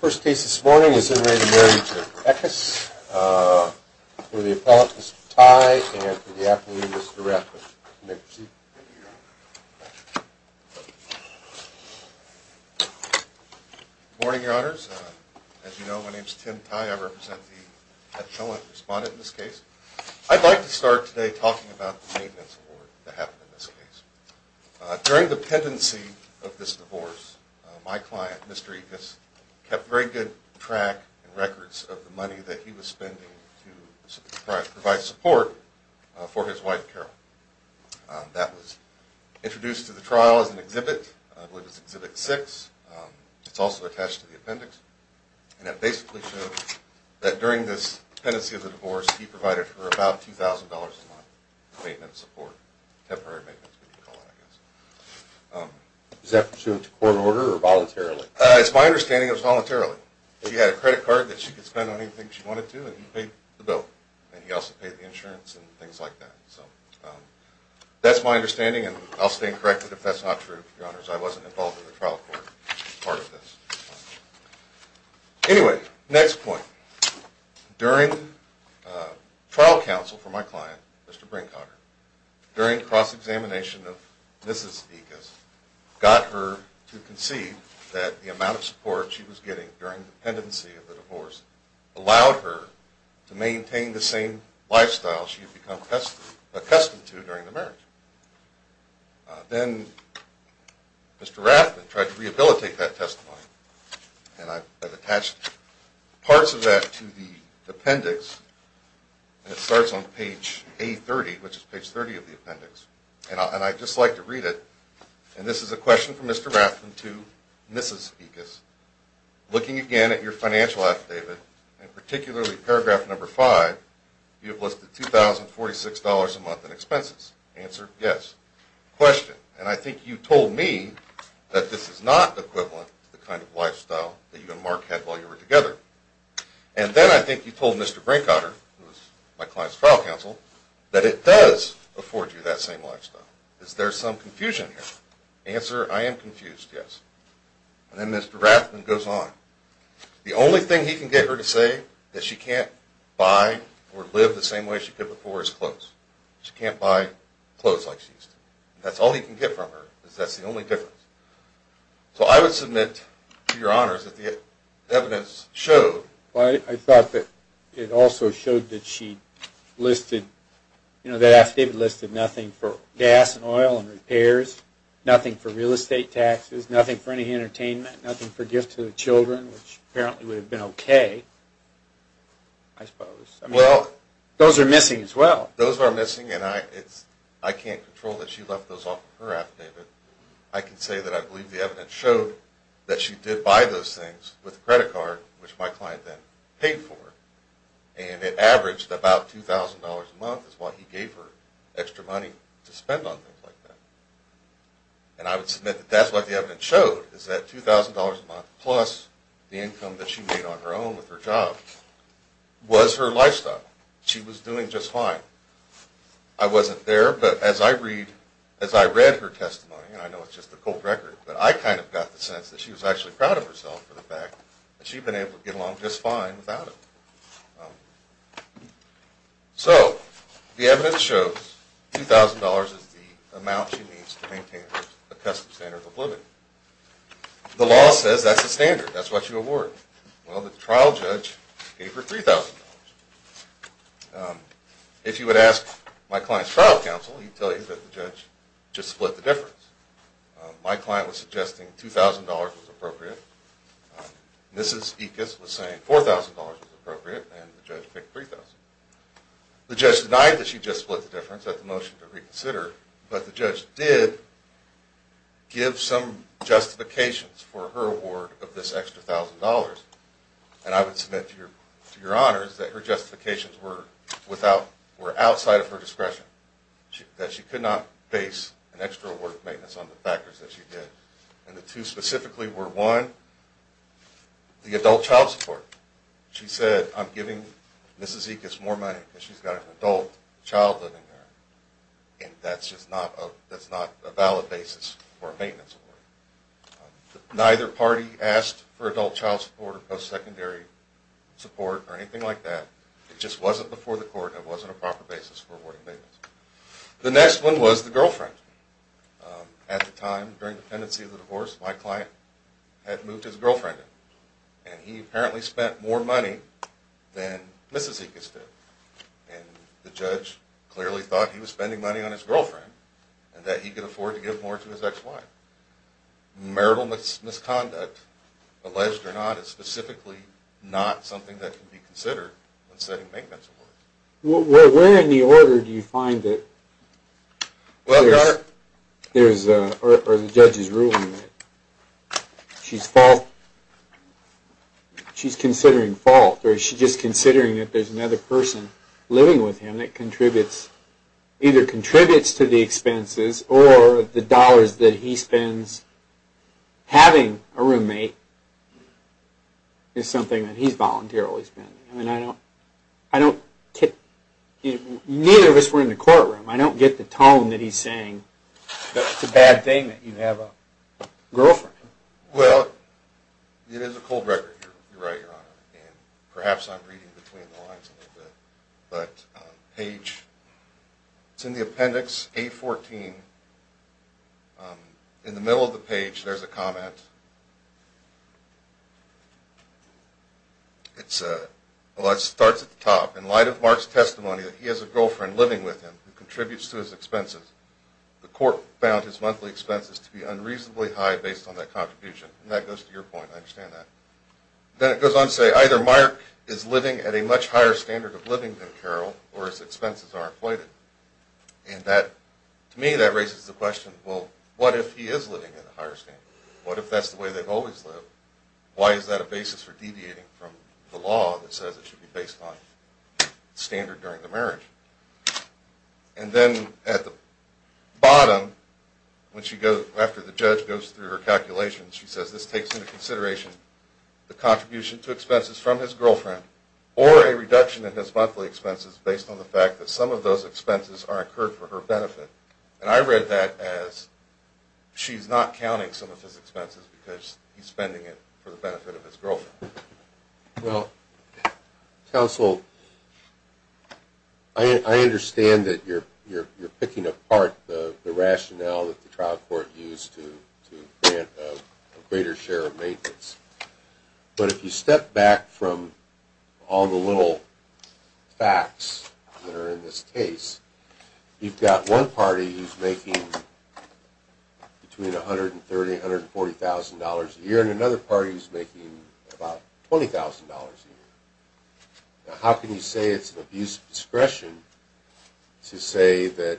First case this morning is in re Marriage of Ekiss. For the appellant, Mr. Tye, and for the appellant, Mr. Rathbun. Good morning, your honors. As you know, my name is Tim Tye. I represent the petulant respondent in this case. I'd like to start today talking about the maintenance award that happened in this case. During the pendency of this divorce, my client, Mr. Ekiss, kept very good track and records of the money that he was spending to provide support for his wife, Carol. That was introduced to the trial as an exhibit. I believe it was Exhibit 6. It's also attached to the appendix. And it basically shows that during this period of time, my client, Mr. Ekiss, kept a record of the money that he was spending to provide support for his wife, Carol. That was introduced to the trial as an exhibit. And it basically shows that during this period support for his wife, Carol. My client, Mr. Brinkhager, during cross-examination of Mrs. Ekiss, got her to concede that the amount of support she was getting during the pendency of the divorce allowed her to maintain the same lifestyle she had become accustomed to during the marriage. Then Mr. Rathbun tried to rehabilitate that testimony, and I've attached parts of that to the appendix. And it starts on page A30, which is page 30 of the appendix. And I'd just like to read it. And this is a question from Mr. Rathbun to Mrs. Ekiss. Looking again at your financial affidavit, and particularly paragraph number 5, you have listed $2,046 a month in expenses. Answer, yes. Question. And I think you told me that this is not equivalent to the kind of And then I think you told Mr. Brinkhager, my client's trial counsel, that it does afford you that same lifestyle. Is there some confusion here? Answer, I am confused, yes. And then Mr. Rathbun goes on. The only thing he can get her to say that she can't buy or live the same way she could before is clothes. She can't buy clothes like she used to. That's all he can get from her. That's the only difference. So I would submit to your honors that the evidence showed Well, I thought that it also showed that she listed, you know, that affidavit listed nothing for gas and oil and repairs, nothing for real estate taxes, nothing for any entertainment, nothing for gifts to the children, which apparently would have been okay, I suppose. I mean, those are missing as well. Those are I can say that I believe the evidence showed that she did buy those things with a credit card, which my client then paid for. And it averaged about $2,000 a month is what he gave her extra money to spend on things like that. And I would submit that that's what the evidence showed, is that $2,000 a month plus the income that she made on her own with her job was her lifestyle. She was doing just fine. I wasn't there, but as I read her testimony, and I know it's just a cold record, but I kind of got the sense that she was actually proud of herself for the fact that she'd been able to get along just fine without it. So the evidence shows $2,000 is the amount she needs to maintain a custom standard of living. The law says that's the standard. That's what you award. Well, the trial judge gave her $3,000. If you would ask my client's trial counsel, he'd tell you that the judge just split the difference. My client was suggesting $2,000 was appropriate. Mrs. Ekes was saying $4,000 was appropriate, and the judge picked $3,000. The judge denied that she just split the difference. That's a motion to reconsider. But the judge did give some justifications for her award of this extra $1,000, and I would submit to your honors that her justifications were outside of her discretion, that she could not base an extra award of maintenance on the factors that she did. And the two specifically were, one, the adult child support. She said, I'm giving Mrs. Ekes more money because she's got an adult child living there, and that's just not a valid basis for a we asked for adult child support or post-secondary support or anything like that. It just wasn't before the court. It wasn't a proper basis for awarding payments. The next one was the girlfriend. At the time, during the pendency of the divorce, my client had moved his girlfriend in, and he apparently spent more money than Mrs. Ekes did. And the judge clearly thought he was spending money on his girlfriend and that he could afford to give more to his ex-wife. Marital misconduct, alleged or not, is specifically not something that can be considered when setting maintenance awards. Where in the order do you find that there's, or the judge is ruling that she's fault, she's considering fault, or is she just considering that there's another person living with him that contributes, either contributes to the expenses or the Having a roommate is something that he's voluntarily spending. I mean, I don't, I don't, neither of us were in the courtroom. I don't get the tone that he's saying that it's a bad thing that you have a girlfriend. Well, it is a cold record, Your Honor, and perhaps I'm reading between the lines a little bit, but page, it's in the appendix A14. In the middle of the page there's a comment. It starts at the top. In light of Mark's testimony that he has a girlfriend living with him who contributes to his expenses, the court found his monthly expenses to be unreasonably high based on that contribution. And that goes to your point. I understand that. Then it goes on to say, either Mark is living at a much higher standard of living than Carol or his expenses are inflated. And that, to me, that raises the question, well, what if he is living at a higher standard? What if that's the way they've always lived? Why is that a basis for deviating from the law that says it should be based on standard during the marriage? And then at the bottom, when she goes, after the judge goes through her calculations, she says, this takes into consideration the contribution to expenses from his girlfriend or a reduction in his monthly expenses based on the fact that some of those expenses are incurred for her benefit. And I read that as she's not counting some of his expenses because he's spending it for the benefit of his girlfriend. Well, counsel, I understand that you're picking apart the rationale that the trial court used to grant a greater share of maintenance. But if you step back from all the little facts that are in this case, you've got one party who's making between $130,000, $140,000 a year, and another party who's making about $20,000 a year. Now, how can you say it's an abuse of discretion to say that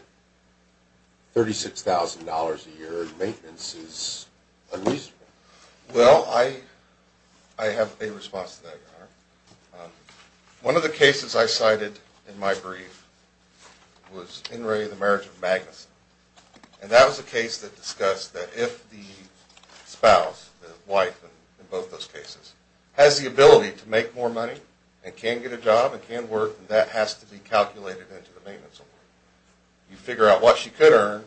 $36,000 a year maintenance is unreasonable? Well, I have a response to that, Your Honor. One of the cases I cited in my brief was In re of the marriage of Magnuson. And that was a case that discussed that if the spouse, the wife in both those cases, has the ability to make more money and can get a job and can work, that has to be calculated into the maintenance award. You figure out what she could earn,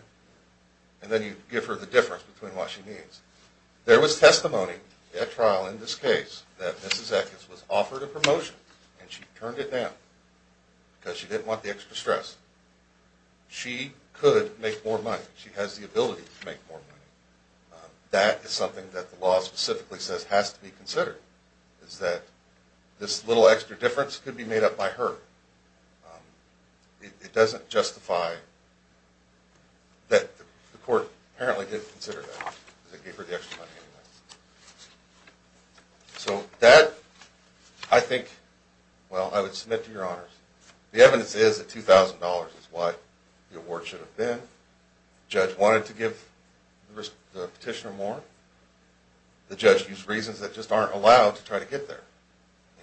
and then you give her the difference between what she needs. There was testimony at trial in this case that Mrs. Eckes was offered a promotion, and she turned it down because she didn't want the extra stress. She could make more money. She has the ability to make more money. That is something that the law specifically says has to be considered, is that this little extra difference could be made up by her. It doesn't justify that the court apparently didn't consider that, because they gave her the extra money anyway. So that, I think, well, I would submit to Your Honors. The evidence is that $2,000 is what the award should have been. The judge wanted to give the petitioner more. The judge used reasons that just aren't allowed to try to get there,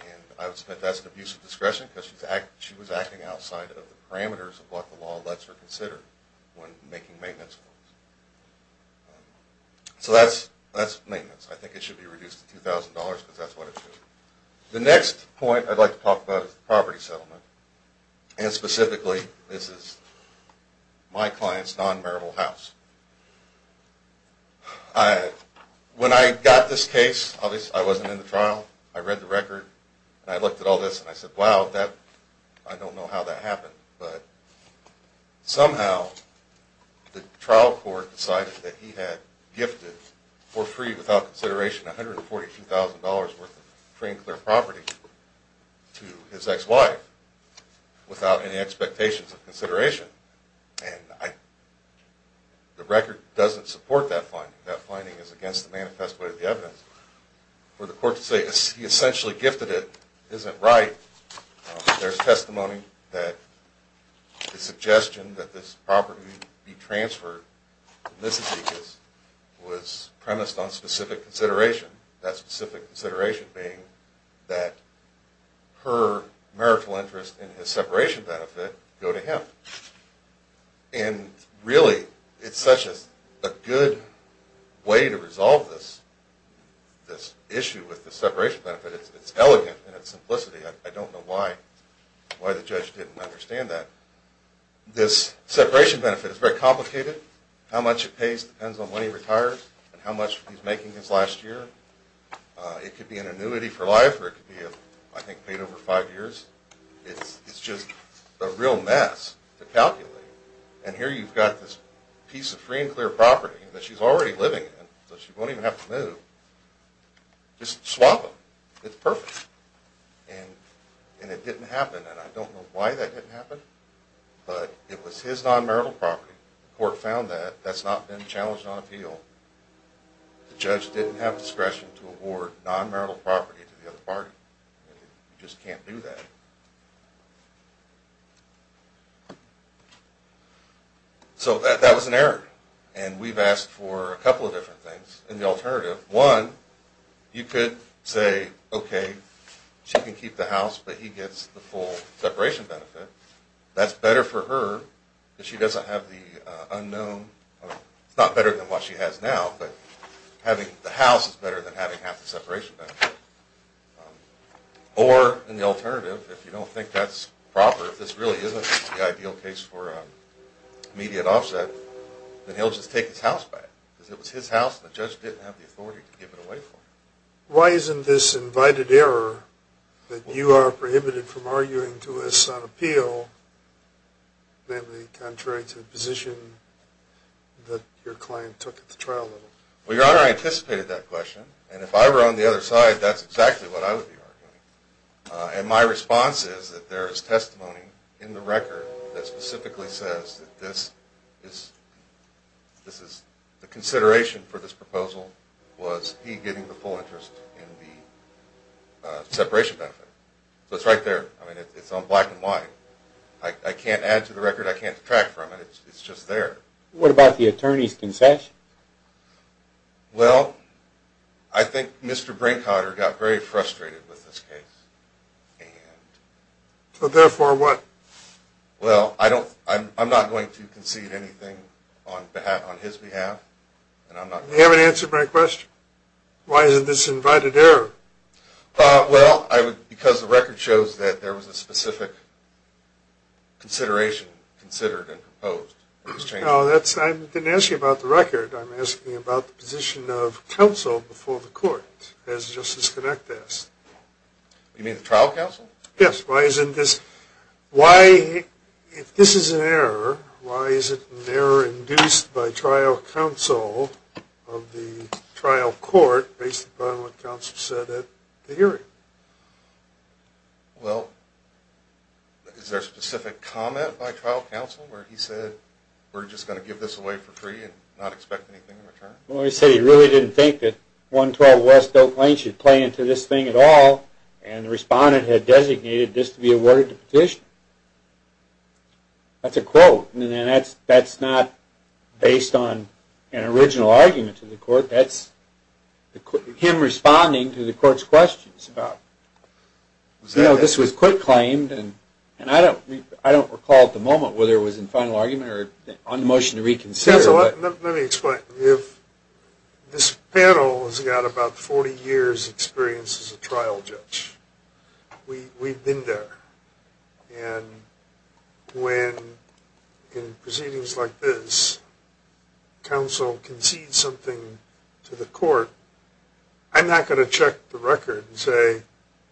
and I would submit that's an abuse of discretion because she was acting outside of the parameters of what the law lets her consider when making maintenance. So that's maintenance. I think it should be reduced to $2,000 because that's what it should be. The next point I'd like to talk about is the property settlement, and specifically, this is my client's non-marital house. When I got this case, obviously, I wasn't in the trial. I read the record, and I looked at all this, and I said, wow, I don't know how that happened. But somehow, the trial court decided that he had gifted for free, without consideration, $142,000 worth of free and clear property to his ex-wife without any expectations of consideration. And the record doesn't support that finding. That finding is against the manifest way of the evidence. For the court to say he essentially gifted it isn't right. There's testimony that the suggestion that this property be transferred to Mississippi was premised on specific consideration, that specific consideration being that her marital interest and his separation benefit go to And really, it's such a good way to resolve this issue with the separation benefit. It's elegant in its simplicity. I don't know why the judge didn't understand that. This separation benefit is very complicated. How much it pays depends on when he retires and how much he's making his last year. It could be an annuity for life, or it could be, I think, paid over five years. It's just a real mess to calculate. And here you've got this piece of free and clear property that she's already living in, so she won't even have to move. Just swap them. It's perfect. And it didn't happen, and I don't know why that didn't happen, but it was his non-marital property. The court found that. That's not been challenged on appeal. The judge didn't have discretion to award non-marital property to the other party. You just can't do that. So that was an error, and we've asked for a couple of different things. And the alternative, one, you could say, okay, she can keep the house, but he gets the full separation benefit. That's better for her, but she doesn't have the benefit she has now, but having the house is better than having half the separation benefit. Or, and the alternative, if you don't think that's proper, if this really isn't the ideal case for immediate offset, then he'll just take his house back, because it was his house and the judge didn't have the authority to give it away for him. Why isn't this invited error that you are prohibited from arguing to us on Well, Your Honor, I anticipated that question, and if I were on the other side, that's exactly what I would be arguing. And my response is that there is testimony in the record that specifically says that this is, the consideration for this proposal was he getting the full interest in the separation benefit. So it's right there. I mean, it's on black and white. I can't add to the record. I can't detract from it. It's just there. What about the attorney's concession? Well, I think Mr. Brinkhotter got very frustrated with this case, and So therefore what? Well, I don't, I'm not going to concede anything on his behalf, and I'm not You haven't answered my question. Why isn't this invited error? Well, I would, because the record shows that there was a specific consideration considered and proposed. No, that's, I didn't ask you about the record. I'm asking about the position of counsel before the court, as Justice Connect asked. You mean the trial counsel? Yes. Why isn't this, why, if this is an error, why is it an error induced by trial counsel of the trial court based upon what counsel said at the hearing? Well, is there a specific comment by trial counsel where he said we're just going to give this away for free and not expect anything in return? Well, he said he really didn't think that 112 West Oak Lane should play into this thing at all, and the respondent had designated this to be awarded to petitioner. That's a quote, and that's not based on an original argument to the court. You know, this was court claimed, and I don't recall at the moment whether it was in final argument or on motion to reconsider. Let me explain. If this panel has got about 40 years' experience as a trial judge, we've been there, and when in proceedings like this, counsel concedes something to the court, I'm not going to check the record and say,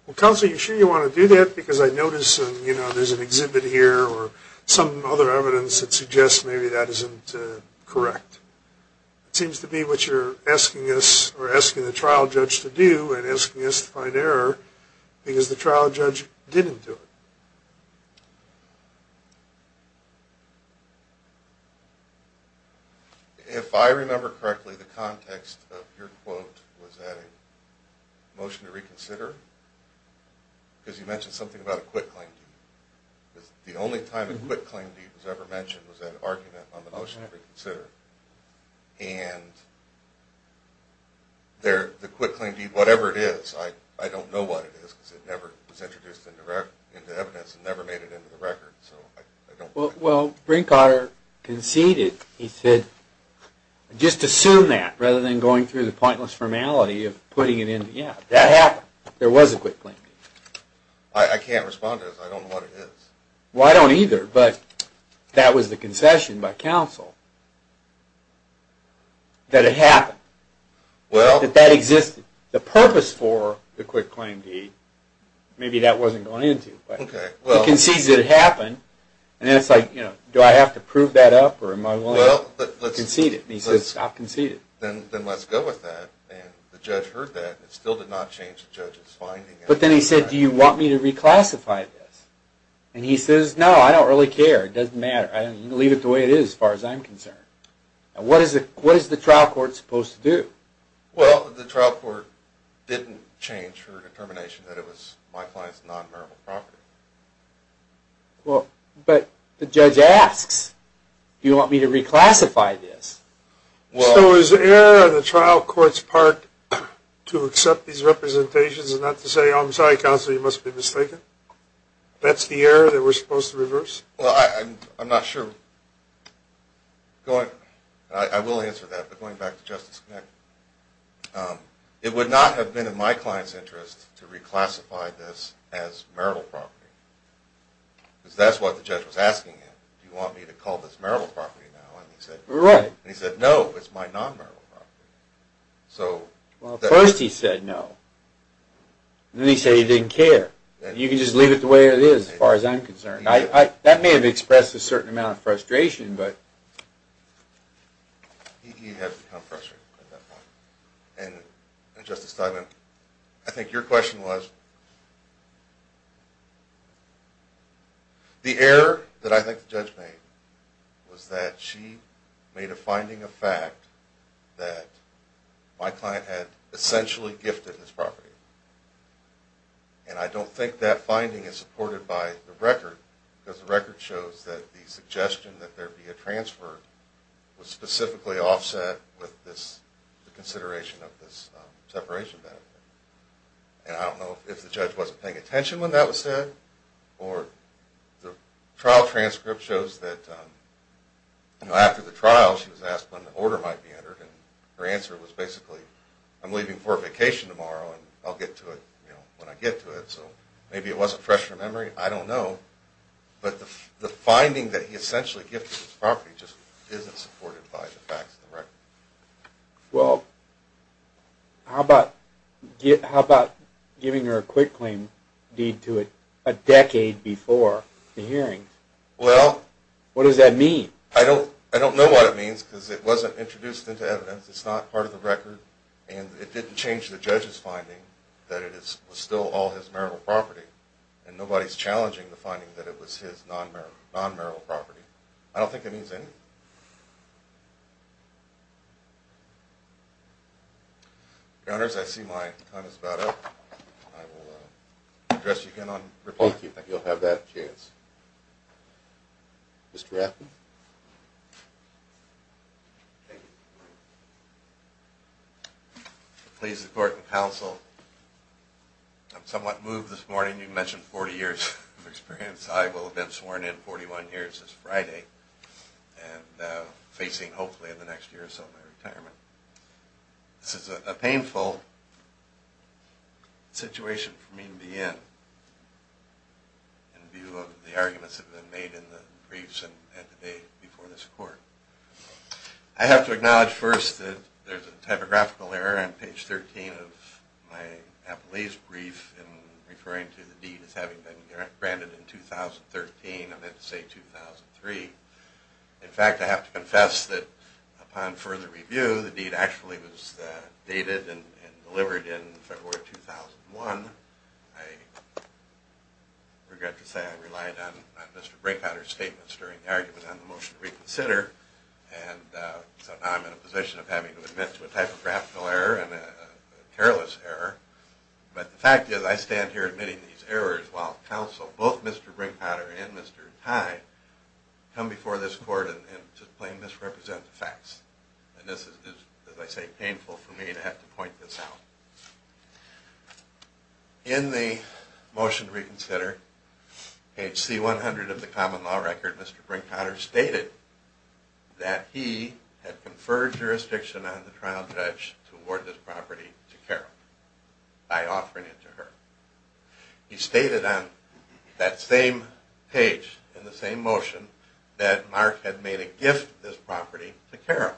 well, counsel, you sure you want to do that? Because I notice there's an exhibit here or some other evidence that suggests maybe that isn't correct. It seems to be what you're asking us or asking the trial judge to do and asking us to find error, because the trial judge didn't do it. If I remember correctly, the context of your quote was that a motion to reconsider, because you mentioned something about a quick claim deed. The only time a quick claim deed was ever mentioned was that argument on the motion to reconsider, and the quick claim deed, whatever it is, I don't know what it is, because it was never introduced into evidence and never made it into the record. Well, Brinkhotter conceded. He said, just assume that, rather than going through the pointless formality of putting it in the app. That happened. There was a quick claim deed. I can't respond to this. I don't know what it is. Well, I don't either, but that was the concession by counsel that it maybe that wasn't going into. He concedes that it happened, and then it's like, do I have to prove that up, or am I willing to concede it? He says, stop conceding. Then let's go with that, and the judge heard that, and it still did not change the judge's finding. But then he said, do you want me to reclassify this? And he says, no, I don't really care. It doesn't matter. Leave it the way it is as far as I'm concerned. What is the trial court supposed to do? Well, the trial court didn't change her determination that it was my client's non-meritable property. Well, but the judge asks, do you want me to reclassify this? So is the error in the trial court's part to accept these representations and not to say, oh, I'm sorry, counsel, you must be mistaken? That's the error that we're supposed to reverse? Well, I'm not sure. I will answer that, but going back to Justice Connick, it would not have been in my client's interest to reclassify this as meritable property, because that's what the judge was asking him. Do you want me to call this meritable property now? And he said, no, it's my non-meritable property. Well, at first he said no. Then he said he didn't care. You can just leave it the way it is as far as I'm concerned. That may have expressed a certain amount of frustration, but. He had become frustrated at that point. And, Justice Steinman, I think your question was, the error that I think the judge made was that she made a finding of fact that my client had essentially gifted this property. And I don't think that finding is supported by the record, because the record shows that the suggestion that there be a transfer was specifically offset with the consideration of this separation benefit. And I don't know if the judge wasn't paying attention when that was said, or the trial transcript shows that after the trial she was asked when the order might be entered, and her answer was basically, I'm leaving for a vacation tomorrow, and I'll get to it when I get to it. So maybe it wasn't fresh in her memory. I don't know. But the finding that he essentially gifted this property just isn't supported by the facts of the record. Well, how about giving her a quick claim deed to it a decade before the hearing? Well. What does that mean? I don't know what it means, because it wasn't introduced into evidence. It's not part of the record, and it didn't change the judge's finding that it was still all his marital property, and nobody's challenging the finding that it was his non-marital property. I don't think it means anything. Your Honors, I see my time is about up. I will address you again on repeat. Thank you. You'll have that chance. Mr. Rafferty? Thank you. Please support the counsel. I'm somewhat moved this morning. You mentioned 40 years of experience. I will have been sworn in 41 years this Friday and facing, hopefully, in the next year or so my retirement. This is a painful situation for me to be in, in view of the arguments that have been made in the briefs and at the date before this court. I have to acknowledge first that there's a typographical error on page 13 of my appellee's brief in referring to the deed as having been granted in 2013. I meant to say 2003. In fact, I have to confess that upon further review, the deed actually was dated and delivered in February 2001. I regret to say I relied on Mr. Brinkhotter's statements during the argument on the motion to reconsider, and so now I'm in a position of having to admit to a typographical error and a careless error. But the fact is I stand here admitting these errors while counsel, both Mr. Brinkhotter and Mr. Tide, come before this court and just plain misrepresent the facts. And this is, as I say, painful for me to have to point this out. In the motion to reconsider, page C100 of the common law record, Mr. Brinkhotter stated that he had conferred jurisdiction on the trial judge to award this property to Carol by offering it to her. He stated on that same page in the same motion that Mark had made a gift of this property to Carol.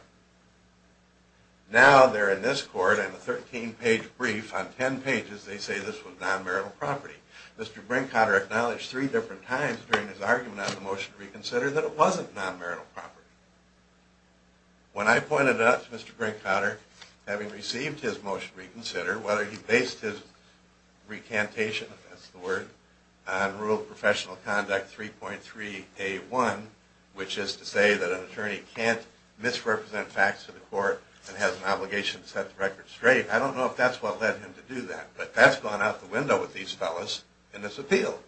Now they're in this court in a 13-page brief. On 10 pages they say this was non-marital property. Mr. Brinkhotter acknowledged three different times during his argument on the motion to reconsider that it wasn't non-marital property. When I pointed it out to Mr. Brinkhotter, having received his motion to reconsider, whether he based his recantation, if that's the word, on Rule of Professional Conduct 3.3A1, which is to say that an attorney can't misrepresent facts to the court and has an obligation to set the record straight. I don't know if that's what led him to do that, but that's gone out the window with these fellas in this appeal.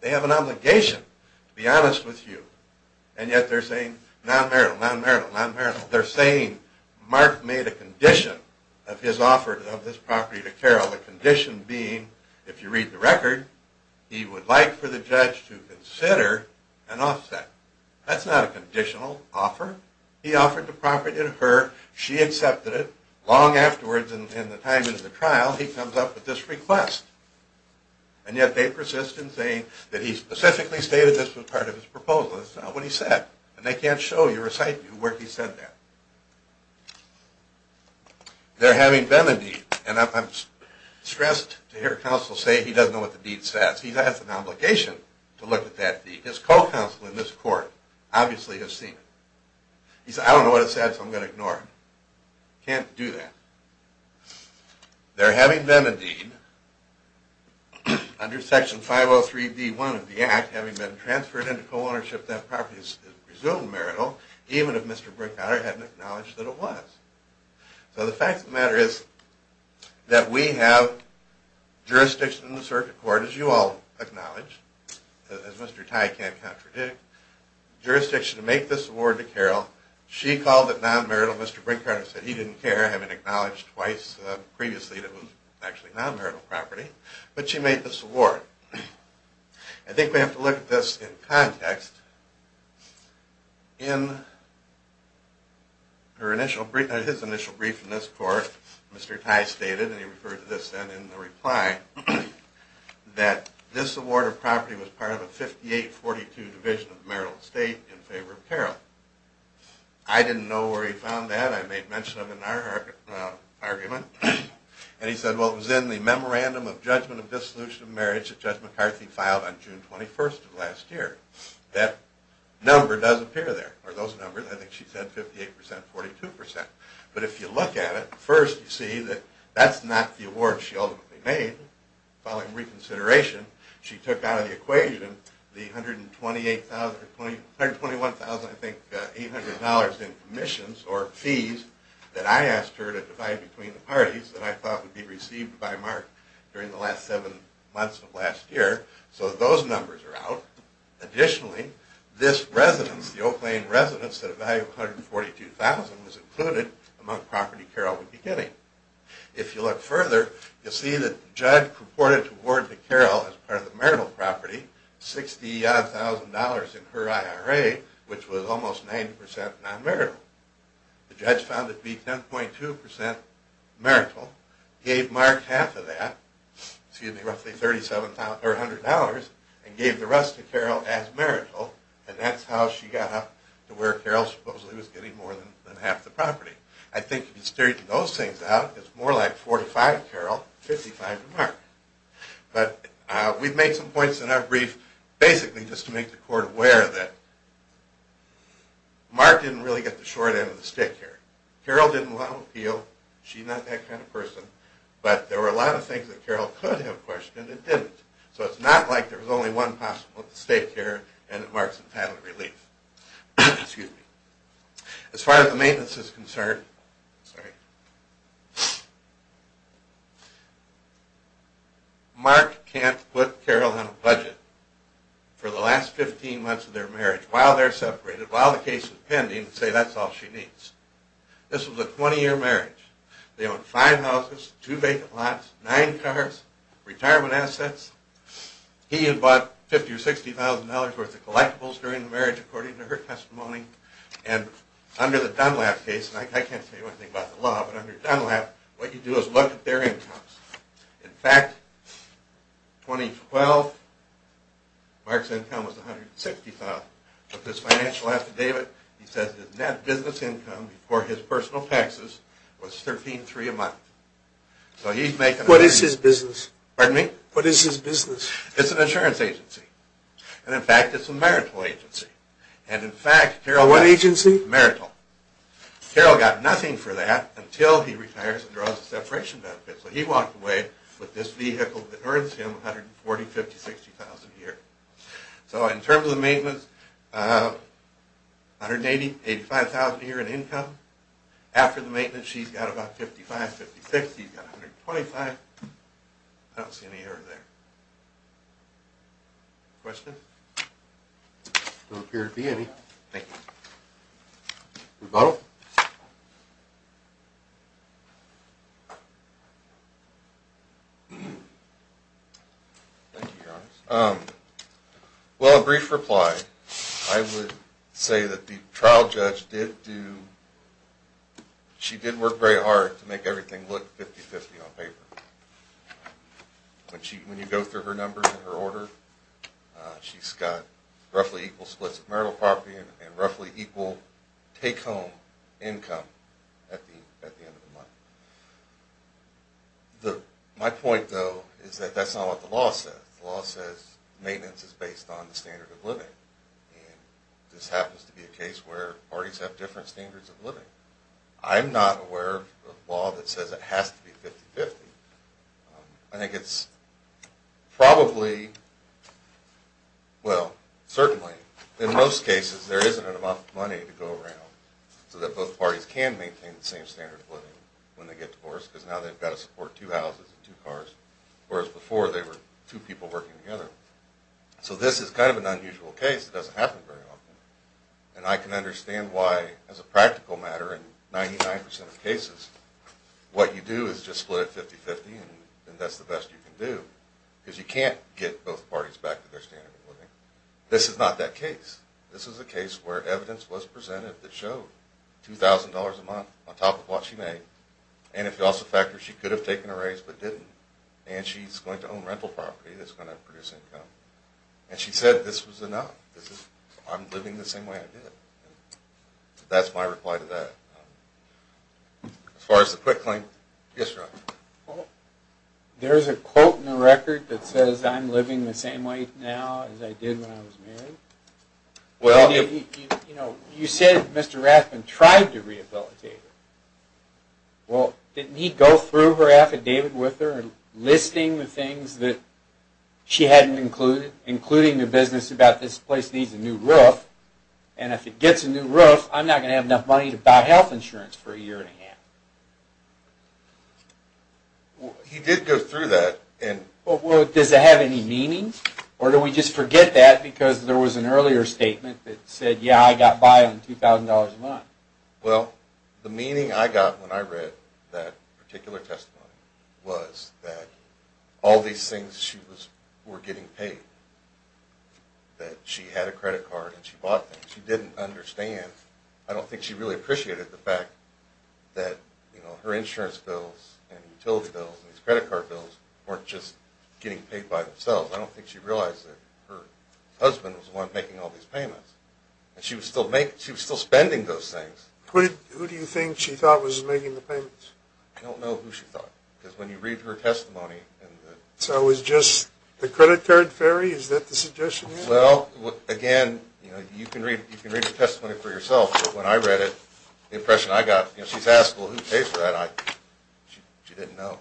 They have an obligation, to be honest with you, and yet they're saying non-marital, non-marital, non-marital. The condition being, if you read the record, he would like for the judge to consider an offset. That's not a conditional offer. He offered the property to her. She accepted it. Long afterwards, in the time of the trial, he comes up with this request. And yet they persist in saying that he specifically stated this was part of his proposal. That's not what he said. And they can't show you or cite you where he said that. They're having Benedict, and I'm stressed to hear counsel say he doesn't know what the deed says. He has an obligation to look at that deed. His co-counsel in this court obviously has seen it. He said, I don't know what it says, so I'm going to ignore it. Can't do that. They're having Benedict under Section 503D1 of the Act, having been transferred into co-ownership of that property as presumed marital, even if Mr. Brinkhardt hadn't acknowledged that it was. So the fact of the matter is that we have jurisdiction in the circuit court, as you all acknowledge, as Mr. Tye can't contradict, jurisdiction to make this award to Carol. She called it non-marital. Mr. Brinkhardt said he didn't care, having acknowledged twice previously that it was actually non-marital property. But she made this award. I think we have to look at this in context. In his initial brief in this court, Mr. Tye stated, and he referred to this then in the reply, that this award of property was part of a 5842 division of marital estate in favor of Carol. I didn't know where he found that. I made mention of it in our argument. And he said, well, it was in the Memorandum of Judgment of Dissolution of Marriage that Judge McCarthy filed on June 21st of last year. That number does appear there, or those numbers. I think she said 58%, 42%. But if you look at it, first you see that that's not the award she ultimately made. Following reconsideration, she took out of the equation the $121,800 in commissions that I thought would be received by Mark during the last seven months of last year. So those numbers are out. Additionally, this residence, the Oak Lane residence, at a value of $142,000 was included among property Carol would be getting. If you look further, you'll see that the judge purported to award to Carol, as part of the marital property, $60,000 in her IRA, which was almost 90% non-marital. The judge found it to be 10.2% marital. Gave Mark half of that, excuse me, roughly $100,000, and gave the rest to Carol as marital. And that's how she got up to where Carol supposedly was getting more than half the property. I think if you straighten those things out, it's more like 45 to Carol, 55 to Mark. But we've made some points in our brief basically just to make the Court aware that Mark didn't really get the short end of the stick here. Carol didn't want to appeal. She's not that kind of person. But there were a lot of things that Carol could have questioned and didn't. So it's not like there was only one possible mistake here, and it marks entitled relief. As far as the maintenance is concerned, Mark can't put Carol on a budget. For the last 15 months of their marriage, while they're separated, while the case is pending, say that's all she needs. This was a 20-year marriage. They owned five houses, two vacant lots, nine cars, retirement assets. He had bought $50,000 or $60,000 worth of collectibles during the marriage, according to her testimony. And under the Dunlap case, and I can't say anything about the law, but under Dunlap, what you do is look at their incomes. In fact, 2012, Mark's income was $160,000. But his financial affidavit, he says his net business income before his personal taxes was $13,300 a month. So he's making... What is his business? Pardon me? What is his business? It's an insurance agency. And in fact, it's a marital agency. And in fact, Carol... What agency? Marital. Carol got nothing for that until he retires and draws a separation benefit. So he walked away with this vehicle that earns him $140,000, $150,000, $160,000 a year. So in terms of the maintenance, $185,000 a year in income. After the maintenance, she's got about $55,000, $56,000. He's got $125,000. I don't see any error there. Questions? There don't appear to be any. Thank you. Rebuttal? Thank you, Your Honor. Well, a brief reply. I would say that the trial judge did do... She did work very hard to make everything look 50-50 on paper. When you go through her numbers and her order, she's got roughly equal splits of marital property and roughly equal take-home income at the end of the month. My point, though, is that that's not what the law says. The law says maintenance is based on the standard of living. And this happens to be a case where parties have different standards of living. I'm not aware of a law that says it has to be 50-50. I think it's probably... Well, certainly. In most cases, there isn't enough money to go around so that both parties can maintain the same standard of living when they get divorced because now they've got to support two houses and two cars, whereas before they were two people working together. So this is kind of an unusual case. It doesn't happen very often. And I can understand why, as a practical matter, in 99% of cases, what you do is just split it 50-50, and that's the best you can do because you can't get both parties back to their standard of living. This is not that case. This is a case where evidence was presented that showed $2,000 a month on top of what she made, and if you also factor she could have taken a raise but didn't, and she's going to own rental property that's going to produce income. And she said this was enough. I'm living the same way I did. That's my reply to that. As far as the quick claim, yes, sir? There's a quote in the record that says, I'm living the same way now as I did when I was married. You said Mr. Rathbun tried to rehabilitate her. Well, didn't he go through her affidavit with her and listing the things that she hadn't included, including the business about this place needs a new roof, and if it gets a new roof, I'm not going to have enough money to buy health insurance for a year and a half? He did go through that. Does it have any meaning? Or do we just forget that because there was an earlier statement that said, yeah, I got by on $2,000 a month. Well, the meaning I got when I read that particular testimony was that all these things she was getting paid, that she had a credit card and she bought things. She didn't understand. I don't think she really appreciated the fact that her insurance bills and utility bills and these credit card bills weren't just getting paid by themselves. I don't think she realized that her husband was the one making all these payments. And she was still spending those things. Who do you think she thought was making the payments? I don't know who she thought. Because when you read her testimony... So it was just the credit card theory? Is that the suggestion here? Well, again, you can read the testimony for yourself, but when I read it, the impression I got, she's asked, well, who pays for that? She didn't know.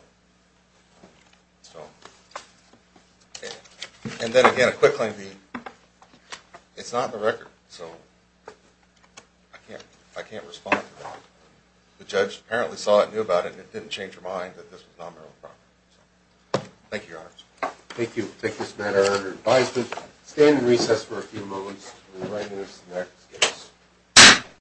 And then again, a quick one. It's not in the record. So I can't respond to that. The judge apparently saw it, knew about it, and it didn't change her mind that this was non-marital property. Thank you, Your Honor. Thank you. We'll take this matter under advisement. Stand in recess for a few moments.